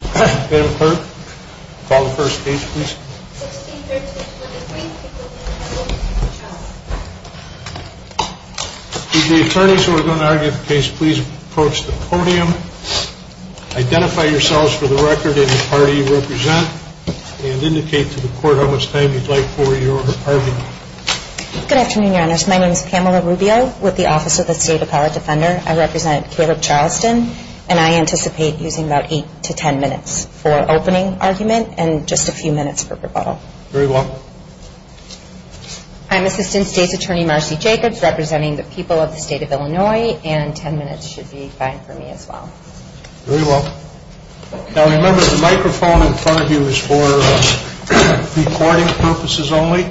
Good afternoon. My name is Pamela Rubio with the Office of the State Appellate Defender. I represent Caleb Charleston and I anticipate using about 8 to 10 minutes for opening argument and just a few minutes for rebuttal. I'm Assistant State's Attorney Marcy Jacobs representing the people of the state of Illinois and 10 minutes should be fine for me as well. Very well. Now remember the microphone in front of you is for recording purposes only.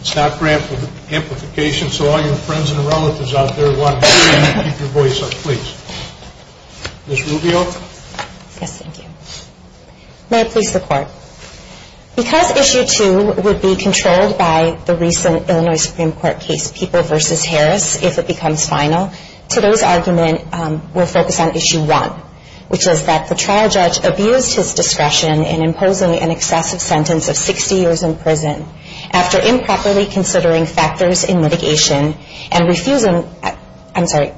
It's not granted for amplification so all your friends and relatives out there want to hear you and keep your voice up please. Ms. Rubio? Yes, thank you. May I please report? Because Issue 2 would be controlled by the recent Illinois Supreme Court case People v. Harris if it becomes final, today's argument will focus on Issue 1 which is that the trial judge abused his discretion in imposing an excessive sentence of 60 years in prison after improperly considering factors in mitigation and refusing, I'm sorry,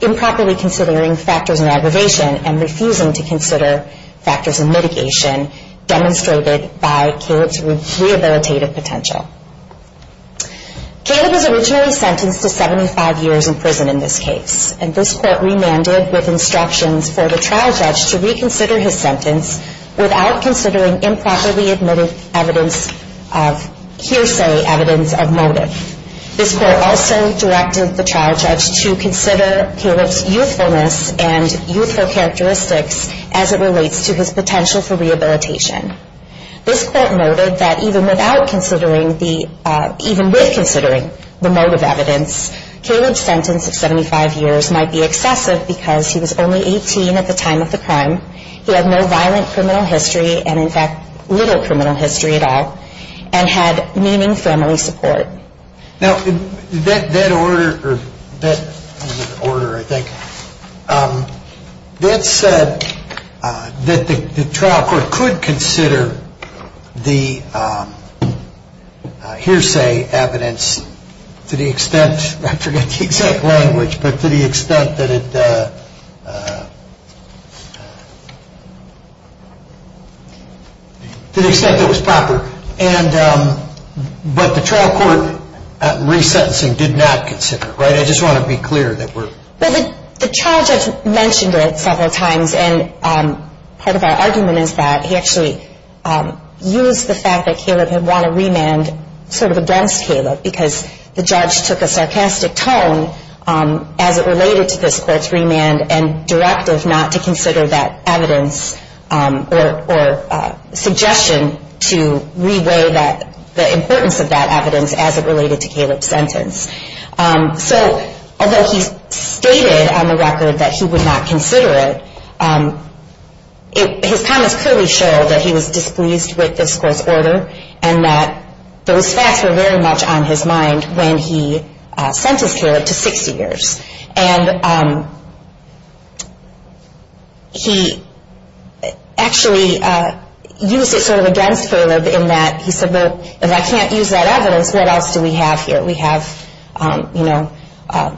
improperly considering factors in aggravation and refusing to file a criminal complaint. And refusing to consider factors in mitigation demonstrated by Caleb's rehabilitative potential. Caleb was originally sentenced to 75 years in prison in this case and this court remanded with instructions for the trial judge to reconsider his sentence without considering improperly admitted evidence of hearsay evidence of motive. This court also directed the trial judge to consider Caleb's youthfulness and youthful characteristics as it relates to his potential for rehabilitation. This court noted that even without considering the, even with considering the motive evidence, Caleb's sentence of 75 years might be excessive because he was only 18 at the time of the crime, he had no violent criminal history and in fact little criminal history at all, and had meaning family support. Now that order, that order I think, that said that the trial court could consider the hearsay evidence to the extent, I forget the exact language, but to the extent that it, to the extent that it was proper. And, but the trial court resentencing did not consider, right? I just want to be clear that we're. Well the trial judge mentioned it several times and part of our argument is that he actually used the fact that Caleb had won a remand sort of against Caleb because the judge took a sarcastic tone as it related to this court's remand and directive not to consider that evidence or suggestion to reweigh that, the importance of that evidence as it related to Caleb's sentence. So although he stated on the record that he would not consider it, his comments clearly show that he was displeased with this court's order and that those facts were very much on his mind when he sentenced Caleb to 60 years. And he actually used it sort of against Caleb in that he said, well, if I can't use that evidence, what else do we have here? We have, you know,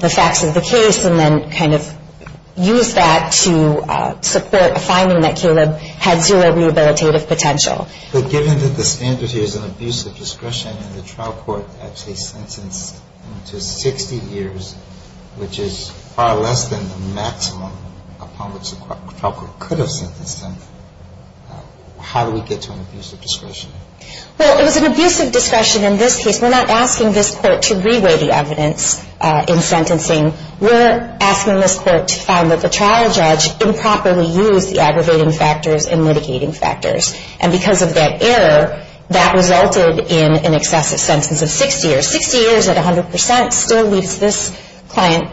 the facts of the case and then kind of used that to support a finding that Caleb had zero rehabilitative potential. But given that the standard here is an abuse of discretion and the trial court actually sentenced him to 60 years, which is far less than the maximum upon which the trial court could have sentenced him, how do we get to an abuse of discretion? Well, it was an abuse of discretion in this case. We're not asking this court to reweigh the evidence in sentencing. We're asking this court to find that the trial judge improperly used the aggravating factors and mitigating factors. And because of that error, that resulted in an excessive sentence of 60 years. So 60 years at 100% still leaves this client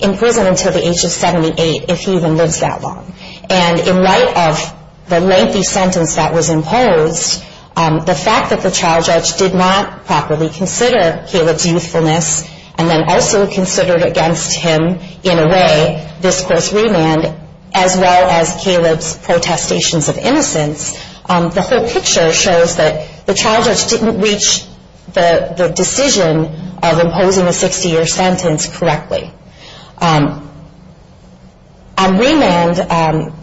in prison until the age of 78, if he even lives that long. And in light of the lengthy sentence that was imposed, the fact that the trial judge did not properly consider Caleb's youthfulness and then also considered against him, in a way, this court's remand, as well as Caleb's protestations of innocence, the whole picture shows that the trial judge didn't reach the decision that he had to make. He didn't reach the decision of imposing a 60-year sentence correctly. On remand,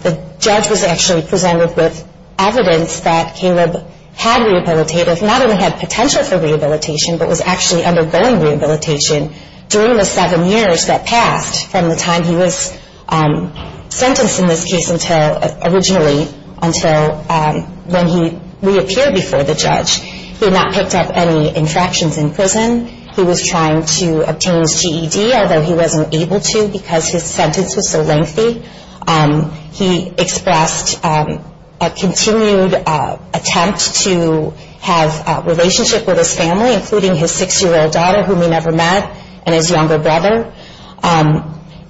the judge was actually presented with evidence that Caleb had rehabilitative, not only had potential for rehabilitation, but was actually undergoing rehabilitation during the seven years that passed from the time he was sentenced in this case until, originally, until when he reappeared before the judge. He had not picked up any infractions in prison. He was trying to obtain his GED, although he wasn't able to because his sentence was so lengthy. He expressed a continued attempt to have a relationship with his family, including his six-year-old daughter, whom he never met, and his younger brother.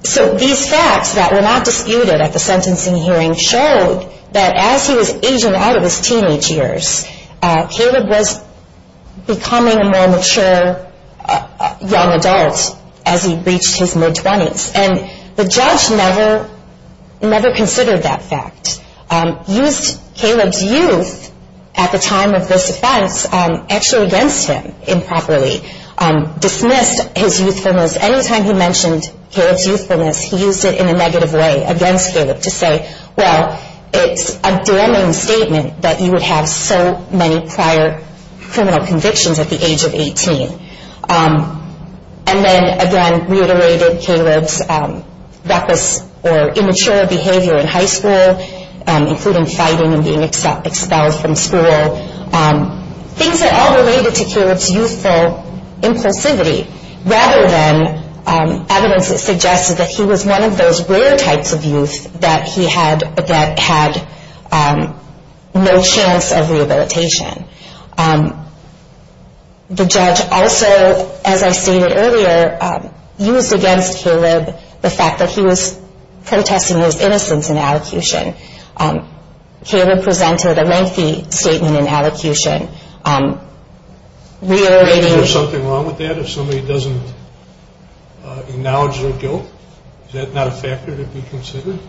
So these facts that were not disputed at the sentencing hearing showed that as he was aging out of his teenage years, Caleb was becoming a more mature young adult as he reached his mid-twenties. And the judge never considered that fact. He used Caleb's youth at the time of this offense actually against him improperly. Dismissed his youthfulness. Anytime he mentioned Caleb's youthfulness, he used it in a negative way against Caleb to say, well, it's a damning statement that you would have so many prior criminal convictions at the age of 18. And then, again, reiterated Caleb's reckless or immature behavior in high school, including fighting and being expelled from school. Things that all related to Caleb's youthful impulsivity rather than evidence that suggested that he was one of those rare types of youth that had no chance of rehabilitation. The judge also, as I stated earlier, used against Caleb the fact that he was protesting his innocence in allocution. Caleb presented a lengthy statement in allocution reiterating... Is there something wrong with that? If somebody doesn't acknowledge their guilt, is that not a factor to be considered?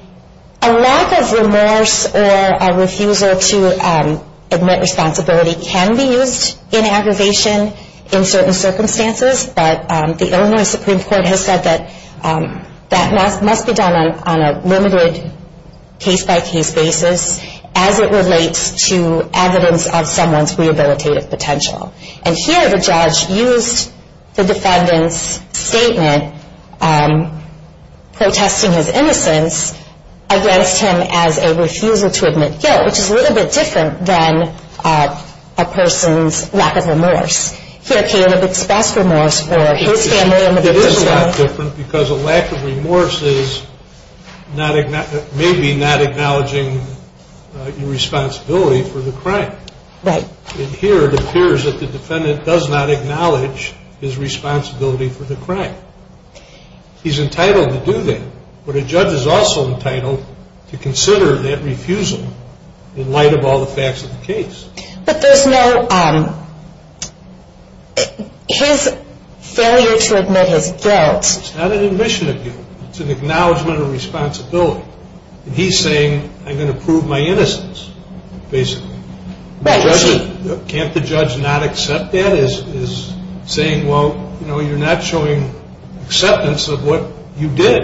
A lack of remorse or a refusal to admit responsibility can be used in aggravation in certain circumstances, but the Illinois Supreme Court has said that that must be done on a limited case-by-case basis as it relates to evidence of someone's rehabilitative potential. And here, the judge used the defendant's statement protesting his innocence against him as a refusal to admit guilt, which is a little bit different than a person's lack of remorse. Here, Caleb expressed remorse for his family... Here, it appears that the defendant does not acknowledge his responsibility for the crime. He's entitled to do that, but a judge is also entitled to consider that refusal in light of all the facts of the case. But there's no... His failure to admit his guilt... It's not an admission of guilt. It's an acknowledgement of responsibility. He's saying, I'm going to prove my innocence, basically. Can't the judge not accept that? He's saying, well, you're not showing acceptance of what you did.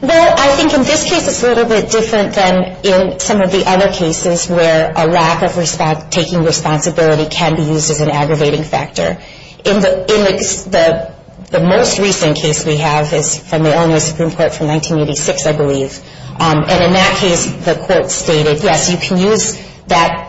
Well, I think in this case, it's a little bit different than in some of the other cases where a lack of taking responsibility can be used as an aggravating factor. In the most recent case we have is from the Illinois Supreme Court from 1986, I believe, and in that case, the court stated, yes, you can use that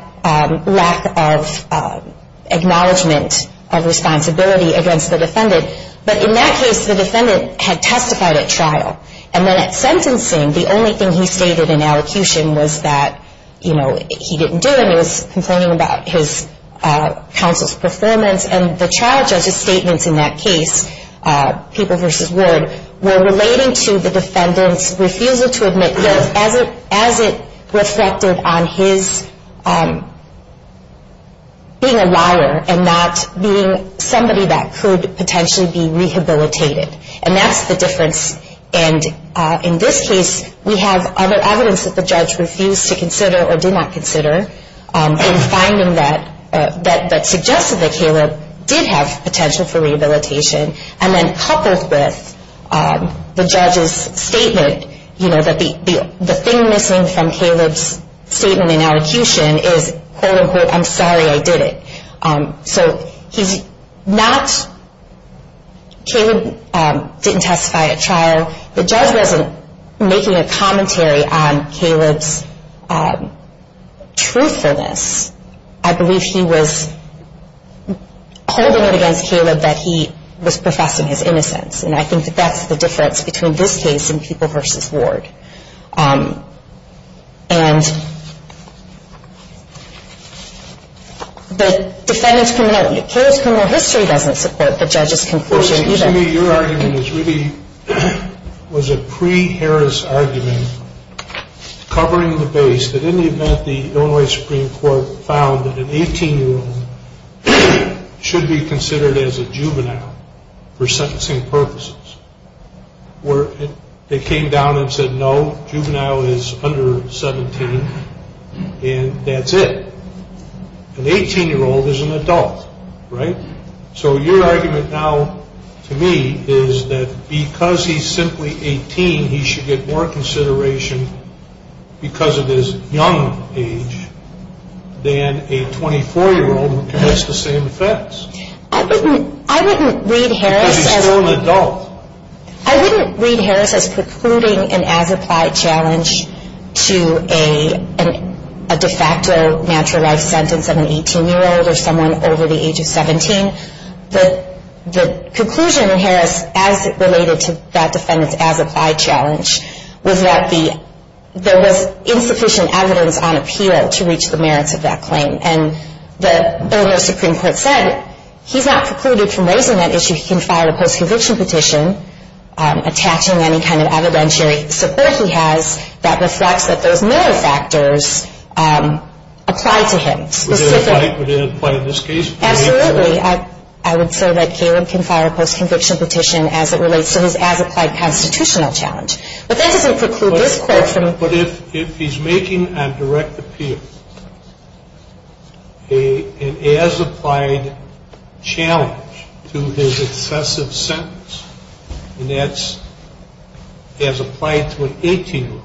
lack of acknowledgement of responsibility against the defendant, but in that case, the defendant had testified at trial. And then at sentencing, the only thing he stated in allocution was that, you know, he didn't do it. He was complaining about his counsel's performance, and the trial judge's statements in that case, people versus word, were relating to the defendant's refusal to admit guilt as it reflected on his being a liar and not being somebody that could potentially be rehabilitated. And that's the difference, and in this case, we have other evidence that the judge refused to consider or did not consider in finding that suggested that Caleb did have potential for rehabilitation, and then coupled with the judge's statement, you know, that the thing missing from Caleb's statement in allocution is, quote, unquote, I'm sorry I did it. So he's not, Caleb didn't testify at trial. The judge wasn't making a commentary on Caleb's truthfulness. I believe he was holding it against Caleb that he was professing his innocence, and I think that's the difference between this case and people versus word. And the defendant's criminal history doesn't support the judge's conclusion either. So to me, your argument is really, was a pre-Harris argument covering the base that in the event the Illinois Supreme Court found that an 18-year-old should be considered as a juvenile for sentencing purposes, where they came down and said no, juvenile is under 17, and that's it. An 18-year-old is an adult, right? So your argument now to me is that because he's simply 18, he should get more consideration because of his young age than a 24-year-old who commits the same offense. I wouldn't read Harris as precluding an as-applied challenge to a de facto natural life sentence of an 18-year-old or someone over the age of 17. The conclusion in Harris as it related to that defendant's as-applied challenge was that there was insufficient evidence on appeal to reach the merits of that claim. And the Illinois Supreme Court said he's not precluded from raising that issue. He can file a post-conviction petition attaching any kind of evidentiary support he has that reflects that those mirror factors apply to him. If he's making a direct appeal, an as-applied challenge to his excessive sentence, and that's as applied to an 18-year-old,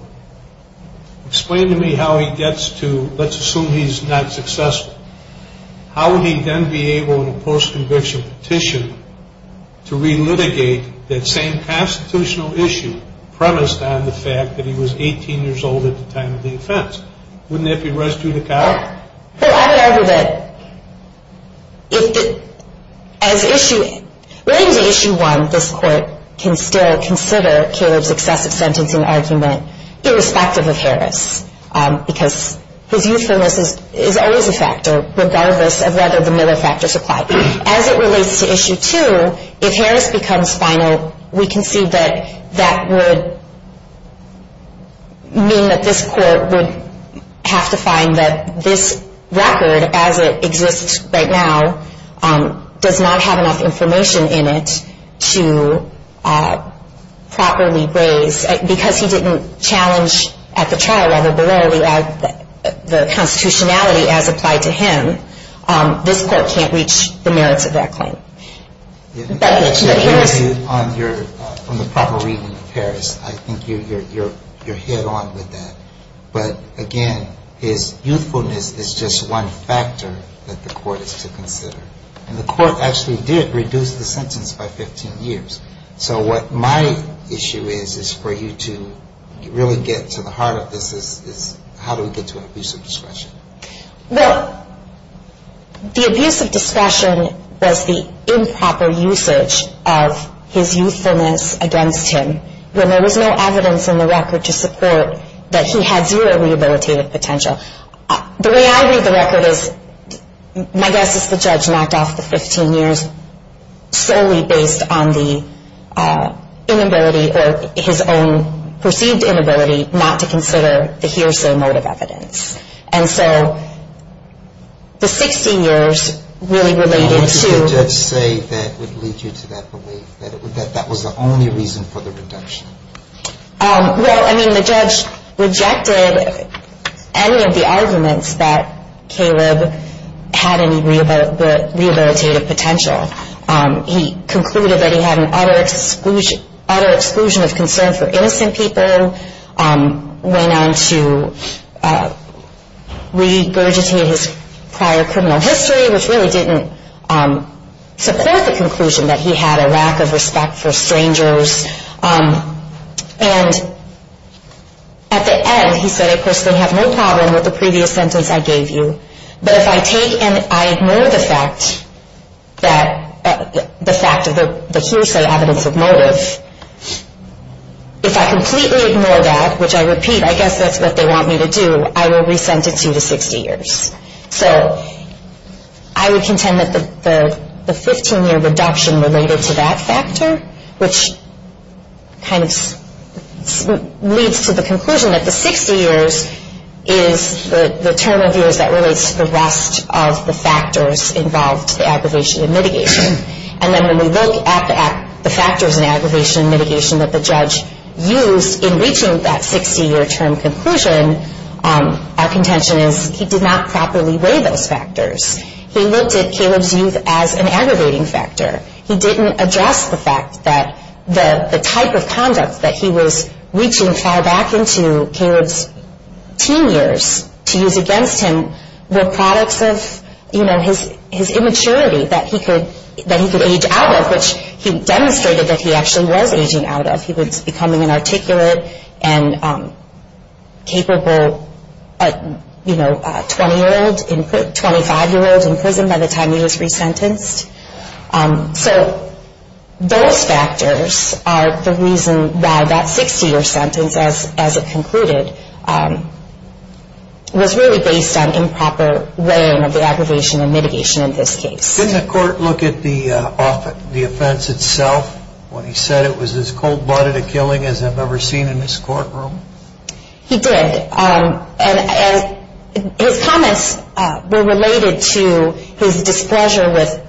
explain to me how he gets to, let's assume he's not successful, but he gets to an 18-year-old. How would he then be able in a post-conviction petition to re-litigate that same constitutional issue premised on the fact that he was 18 years old at the time of the offense? Wouldn't that be res judicata? Well, I would argue that if the, as issue, relating to issue one, this court can still consider Caleb's excessive sentencing argument irrespective of Harris because his youthfulness is always a factor regardless of whether the mirror factors apply. As it relates to issue two, if Harris becomes final, we can see that that would mean that this court would have to find that this record, as it exists right now, does not have enough information in it to properly raise. So I would argue that if the, as issue, relating to issue two, this court can still consider Caleb's excessive sentencing argument irrespective of Harris because his youthfulness is always a factor regardless of whether the mirror factors apply. So what my issue is, is for you to really get to the heart of this is how do we get to an abuse of discretion? Well, the abuse of discretion was the improper usage of his youthfulness against him when there was no evidence in the record to support that he had zero rehabilitative potential. The way I read the record is, my guess is the judge knocked off the 15 years solely based on the inability, or his own perceived inability, not to consider the here's the motive evidence. And so the 16 years really related to... What did the judge say that would lead you to that belief, that that was the only reason for the reduction? Well, I mean, the judge rejected any of the arguments that Caleb had any rehabilitative potential. He concluded that he had an utter exclusion of concern for innocent people, went on to regurgitate his prior criminal history, which really didn't support the conclusion that he had a lack of respect for strangers. And at the end, he said, of course, they have no problem with the previous sentence I gave you. But if I take and I ignore the fact of the hearsay evidence of motive, if I completely ignore that, which I repeat, I guess that's what they want me to do, I will re-sentence you to 60 years. So I would contend that the 15-year reduction related to that factor, which kind of leads to the conclusion that the 60 years is the term of years that relates to the rest of the factors involved in the aggravation and mitigation. And then when we look at the factors in aggravation and mitigation that the judge used in reaching that 60-year term conclusion, our contention is he did not properly weigh those factors. He looked at Caleb's youth as an aggravating factor. He didn't address the fact that the type of conduct that he was reaching far back into Caleb's teen years to use against him were products of his immaturity that he could age out of, which he demonstrated that he actually was aging out of. He was becoming an articulate and capable 20-year-old, 25-year-old in prison by the time he was re-sentenced. So those factors are the reason why that 60-year sentence as it concluded was really based on improper weighing of the aggravation and mitigation in this case. Didn't the court look at the offense itself when he said it was as cold-blooded a killing as I've ever seen in this courtroom? He did. And his comments were related to his displeasure with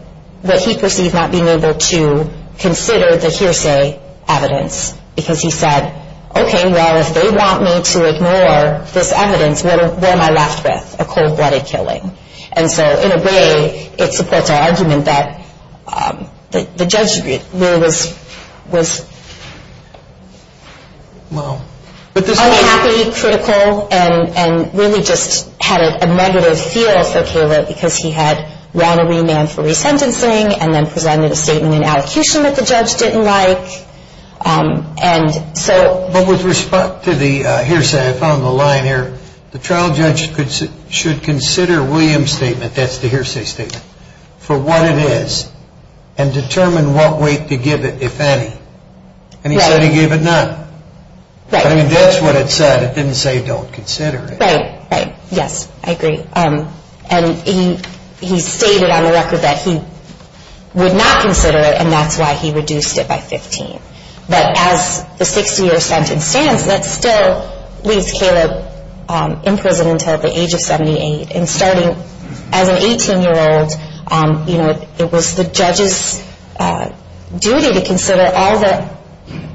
what he perceived not being able to consider the hearsay evidence. Because he said, okay, well, if they want me to ignore this evidence, what am I left with? A cold-blooded killing. And so in a way, it supports our argument that the judge really was unhappy, critical, and really just had a negative feel for Caleb because he had run a remand for re-sentencing and then presented a statement in allocution that the judge didn't like. But with respect to the hearsay, I found the line here, the trial judge should consider William's statement, that's the hearsay statement, for what it is and determine what weight to give it, if any. And he said he gave it none. That's what it said. It didn't say don't consider it. Right, right. Yes, I agree. And he stated on the record that he would not consider it, and that's why he reduced it by 15. But as the 60-year sentence stands, that still leaves Caleb in prison until the age of 78. And starting as an 18-year-old, you know, it was the judge's duty to consider all the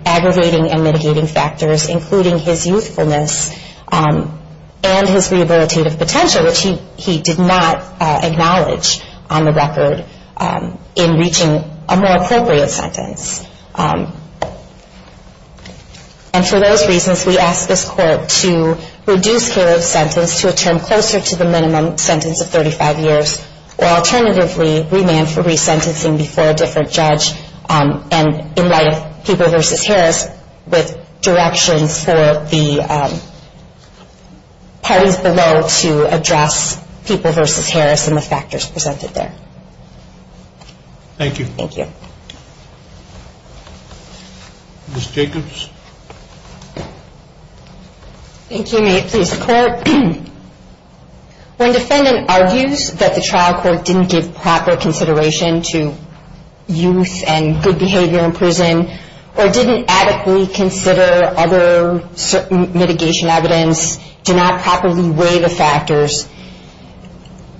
aggravating and mitigating factors, including his youthfulness and his rehabilitative potential, which he did not acknowledge on the record in reaching a more appropriate sentence. And for those reasons, we ask this court to reduce Caleb's sentence to a term closer to the minimum sentence of 35 years, or alternatively, remand for re-sentencing before a different judge and in light of People v. Harris with directions for the parties below to address People v. Harris and the factors presented there. Thank you. Thank you. Ms. Jacobs? Thank you. May it please the Court? When defendant argues that the trial court didn't give proper consideration to youth and good behavior in prison or didn't adequately consider other mitigation evidence, did not properly weigh the factors,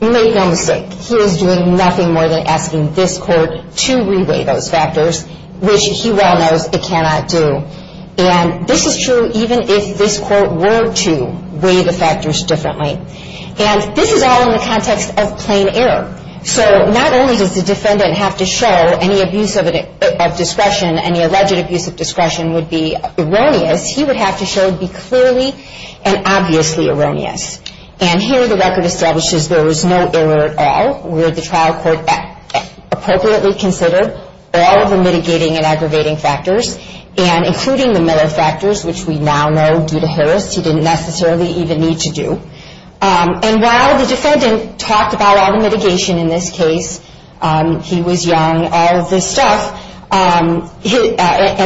you made no mistake. He was doing nothing more than asking this court to re-weigh those factors, which he well knows it cannot do. And this is true even if this court were to weigh the factors differently. And this is all in the context of plain error. So not only does the defendant have to show any abuse of discretion, any alleged abuse of discretion would be erroneous, he would have to show it would be clearly and obviously erroneous. And here the record establishes there was no error at all, where the trial court appropriately considered all of the mitigating and aggravating factors, and including the Miller factors, which we now know due to Harris he didn't necessarily even need to do. And while the defendant talked about all the mitigation in this case, he was young, all of this stuff, and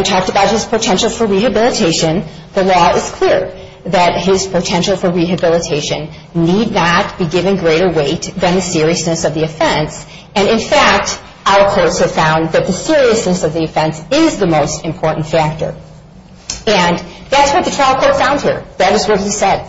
talked about his potential for rehabilitation, the law is clear that his potential for rehabilitation need not be given greater weight than the seriousness of the offense. And in fact, our courts have found that the seriousness of the offense is the most important factor. And that's what the trial court found here. That is what he said.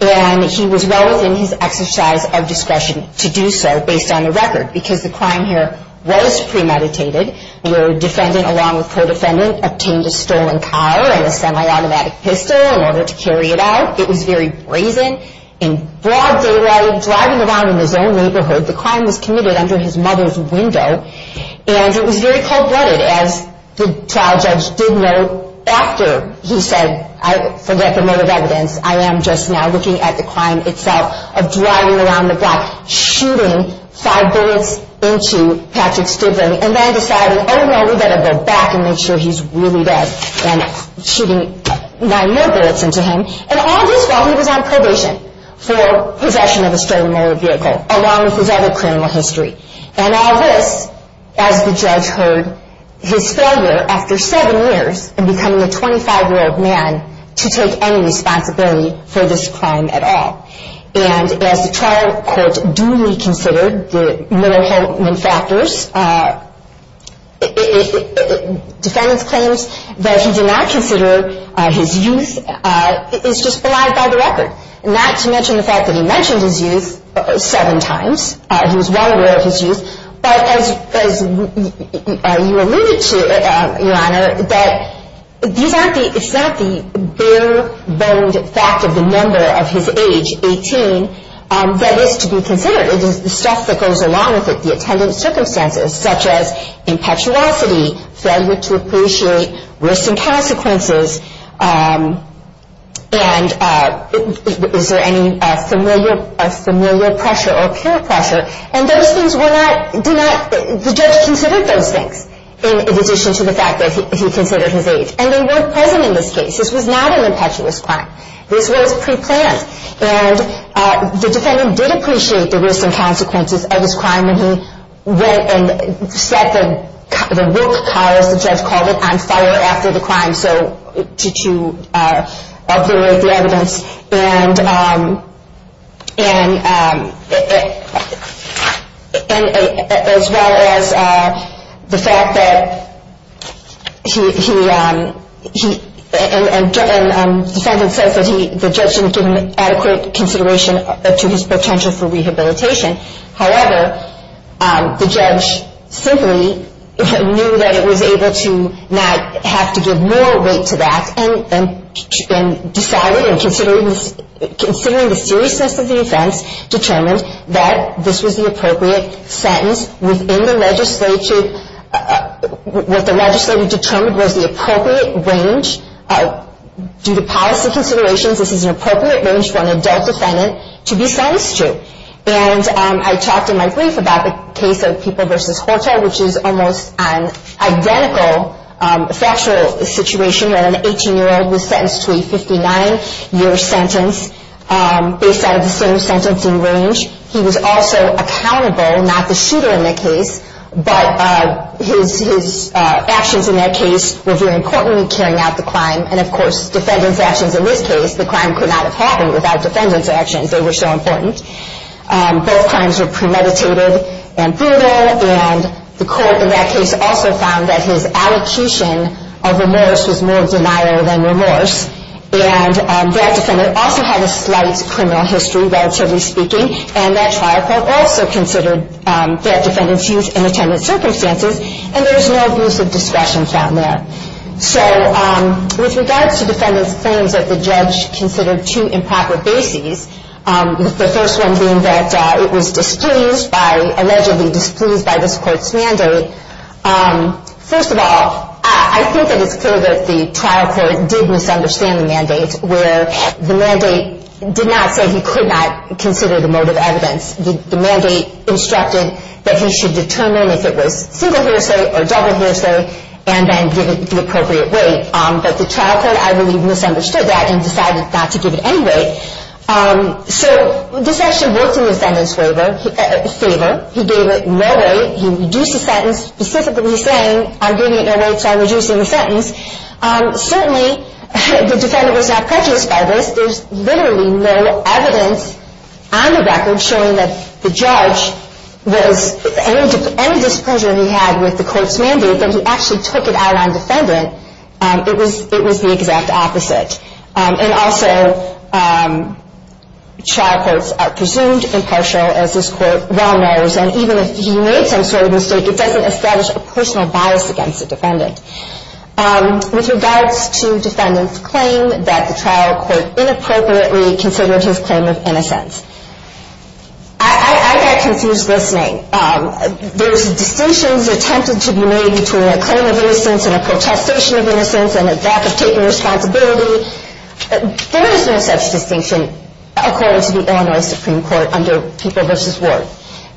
And he was well within his exercise of discretion to do so based on the record. Because the crime here was premeditated, where a defendant along with co-defendant obtained a stolen car and a semi-automatic pistol in order to carry it out. It was very brazen. In broad daylight, driving around in his own neighborhood, the crime was committed under his mother's window. And it was very cold-blooded, as the trial judge did note after he said, I forget the motive evidence, I am just now looking at the crime itself of driving around the block, shooting five bullets into Patrick Stigling, and then deciding, oh, well, we better go back and make sure he's really dead. And shooting nine more bullets into him. And all this while he was on probation for possession of a stolen motor vehicle, along with his other criminal history. And all this as the judge heard his failure after seven years in becoming a 25-year-old man to take any responsibility for this crime at all. And as the trial court duly considered the Miller-Holtman factors, defendants claims that he did not consider his youth is just belied by the record. Not to mention the fact that he mentioned his youth seven times. He was well aware of his youth. But as you alluded to, Your Honor, that these aren't the, it's not the bare-boned fact of the number of his age, 18, that is to be considered. It is the stuff that goes along with it. The attendant circumstances, such as impetuosity, failure to appreciate risks and consequences. And is there any familiar pressure or peer pressure? And those things were not, did not, the judge considered those things. In addition to the fact that he considered his age. And they weren't present in this case. This was not an impetuous crime. This was preplanned. And the defendant did appreciate the risks and consequences of his crime when he went and set the work car, as the judge called it, on fire after the crime. So to uproot the evidence. And as well as the fact that he, and the defendant says that the judge didn't give an adequate consideration to his potential for rehabilitation. However, the judge simply knew that it was able to not have to give more weight to that. And decided, and considering the seriousness of the offense, determined that this was the appropriate sentence within the legislature. What the legislature determined was the appropriate range, due to policy considerations, this is an appropriate range for an adult defendant to be sentenced to. And I talked in my brief about the case of People v. Horta, which is almost an identical factual situation where an 18-year-old was sentenced to a 59-year sentence. Based out of the same sentence and range. He was also accountable, not the shooter in that case. But his actions in that case were very important in carrying out the crime. And of course, defendant's actions in this case, the crime could not have happened without defendant's actions. They were so important. Both crimes were premeditated and brutal. And the court in that case also found that his allocation of remorse was more denial than remorse. And that defendant also had a slight criminal history, relatively speaking. And that trial court also considered that defendant's use in attendant circumstances. And there was no abuse of discretion found there. So with regards to defendant's claims that the judge considered two improper bases. The first one being that it was displeased by, allegedly displeased by this court's mandate. First of all, I think that it's clear that the trial court did misunderstand the mandate. Where the mandate did not say he could not consider the motive evidence. The mandate instructed that he should determine if it was single hearsay or double hearsay. And then give it the appropriate weight. But the trial court, I believe, misunderstood that and decided not to give it any weight. So this actually worked in the defendant's favor. He gave it no weight. He reduced the sentence, specifically saying, I'm giving it no weight, so I'm reducing the sentence. Certainly, the defendant was not prejudiced by this. There's literally no evidence on the record showing that the judge was, any displeasure he had with the court's mandate, that he actually took it out on defendant. It was the exact opposite. And also, trial courts are presumed impartial, as this court well knows. And even if he made some sort of mistake, it doesn't establish a personal bias against the defendant. With regards to defendant's claim that the trial court inappropriately considered his claim of innocence, I got confused listening. There's distinctions attempted to be made between a claim of innocence and a protestation of innocence and a lack of taking responsibility. There is no such distinction, according to the Illinois Supreme Court, under People v. Ward.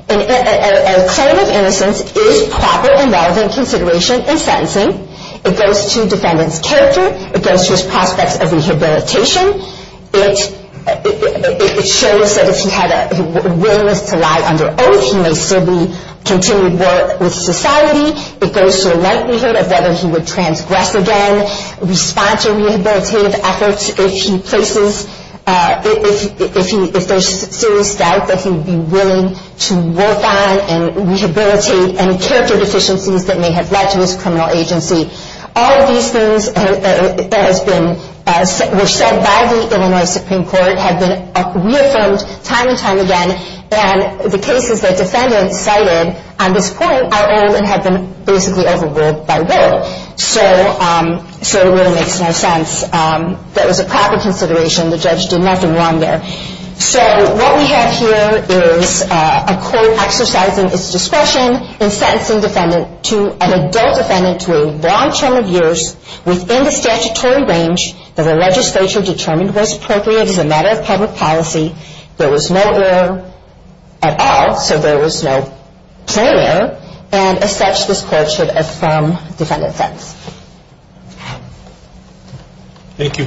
A claim of innocence is proper and relevant consideration in sentencing. It goes to defendant's character. It goes to his prospects of rehabilitation. It shows that if he had a willingness to lie under oath, he may still be continued war with society. It goes to the likelihood of whether he would transgress again. It goes to the likelihood of whether he would respond to rehabilitative efforts if there's serious doubt that he would be willing to work on and rehabilitate any character deficiencies that may have led to his criminal agency. All of these things were said by the Illinois Supreme Court, have been reaffirmed time and time again. And the cases that defendants cited on this point are old and have been basically overruled by Will. So it really makes no sense. That was a proper consideration. The judge did nothing wrong there. So what we have here is a court exercising its discretion in sentencing an adult defendant to a long term of years within the statutory range that the legislature determined was appropriate as a matter of public policy. There was no error at all. So there was no player. And as such, this court should affirm defendant's sentence. Thank you.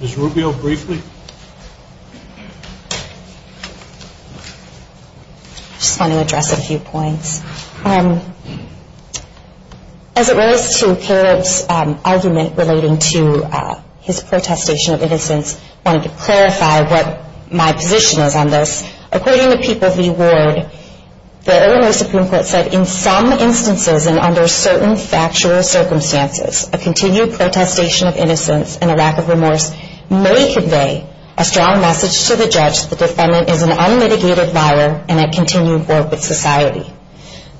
Ms. Rubio, briefly. I just want to address a few points. As it relates to Caleb's argument relating to his protestation of innocence, I wanted to clarify what my position is on this. According to People v. Ward, the Illinois Supreme Court said, in some instances and under certain factual circumstances, a continued protestation of innocence and a lack of remorse may convey a strong message to the judge that the defendant is an unmitigated liar and at continued war with society.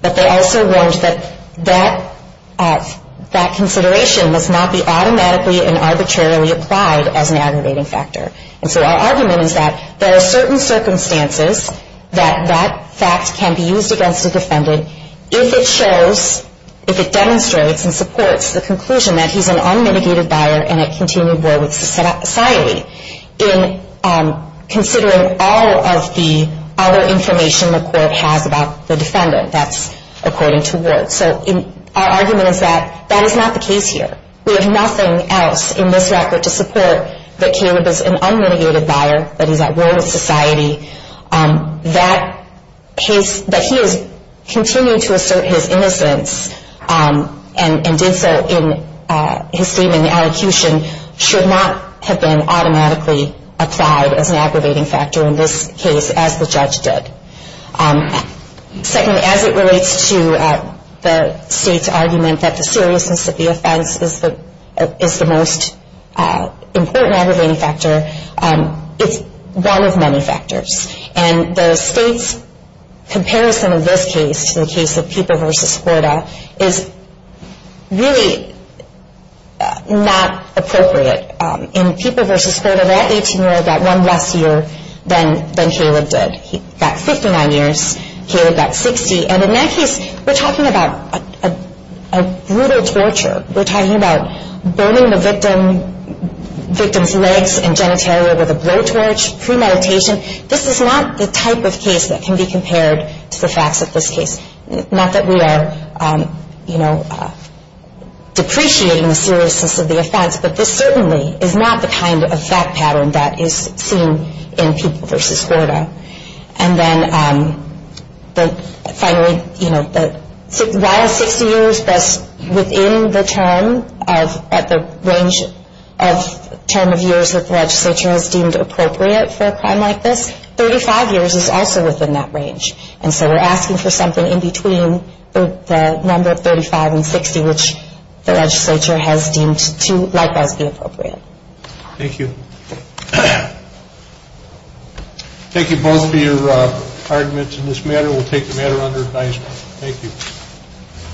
But they also warned that that consideration must not be automatically and arbitrarily applied as an aggravating factor. And so our argument is that there are certain circumstances that that fact can be used against a defendant if it shows, if it demonstrates and supports the conclusion that he's an unmitigated liar and at continued war with society, in considering all of the other information the court has about the defendant. That's according to Ward. So our argument is that that is not the case here. We have nothing else in this record to support that Caleb is an unmitigated liar, that he's at war with society, that he has continued to assert his innocence and did so in his statement in the allocution, should not have been automatically applied as an aggravating factor in this case, as the judge did. Secondly, as it relates to the state's argument that the seriousness of the offense is the most important aggravating factor, it's one of many factors. And the state's comparison of this case to the case of Peeper v. Spurda is really not appropriate. In Peeper v. Spurda, that 18-year-old got one less year than Caleb did. He got 59 years. Caleb got 60. And in that case, we're talking about a brutal torture. We're talking about burning the victim's legs and genitalia with a blowtorch premeditation. This is not the type of case that can be compared to the facts of this case. Not that we are depreciating the seriousness of the offense, but this certainly is not the kind of fact pattern that is seen in Peeper v. Spurda. And then finally, while 60 years, within the term of years that the legislature has deemed appropriate for a crime like this, 35 years is also within that range. And so we're asking for something in between the number of 35 and 60, which the legislature has deemed to likewise be appropriate. Thank you. Thank you both for your arguments in this matter. We'll take the matter under advisement. Thank you.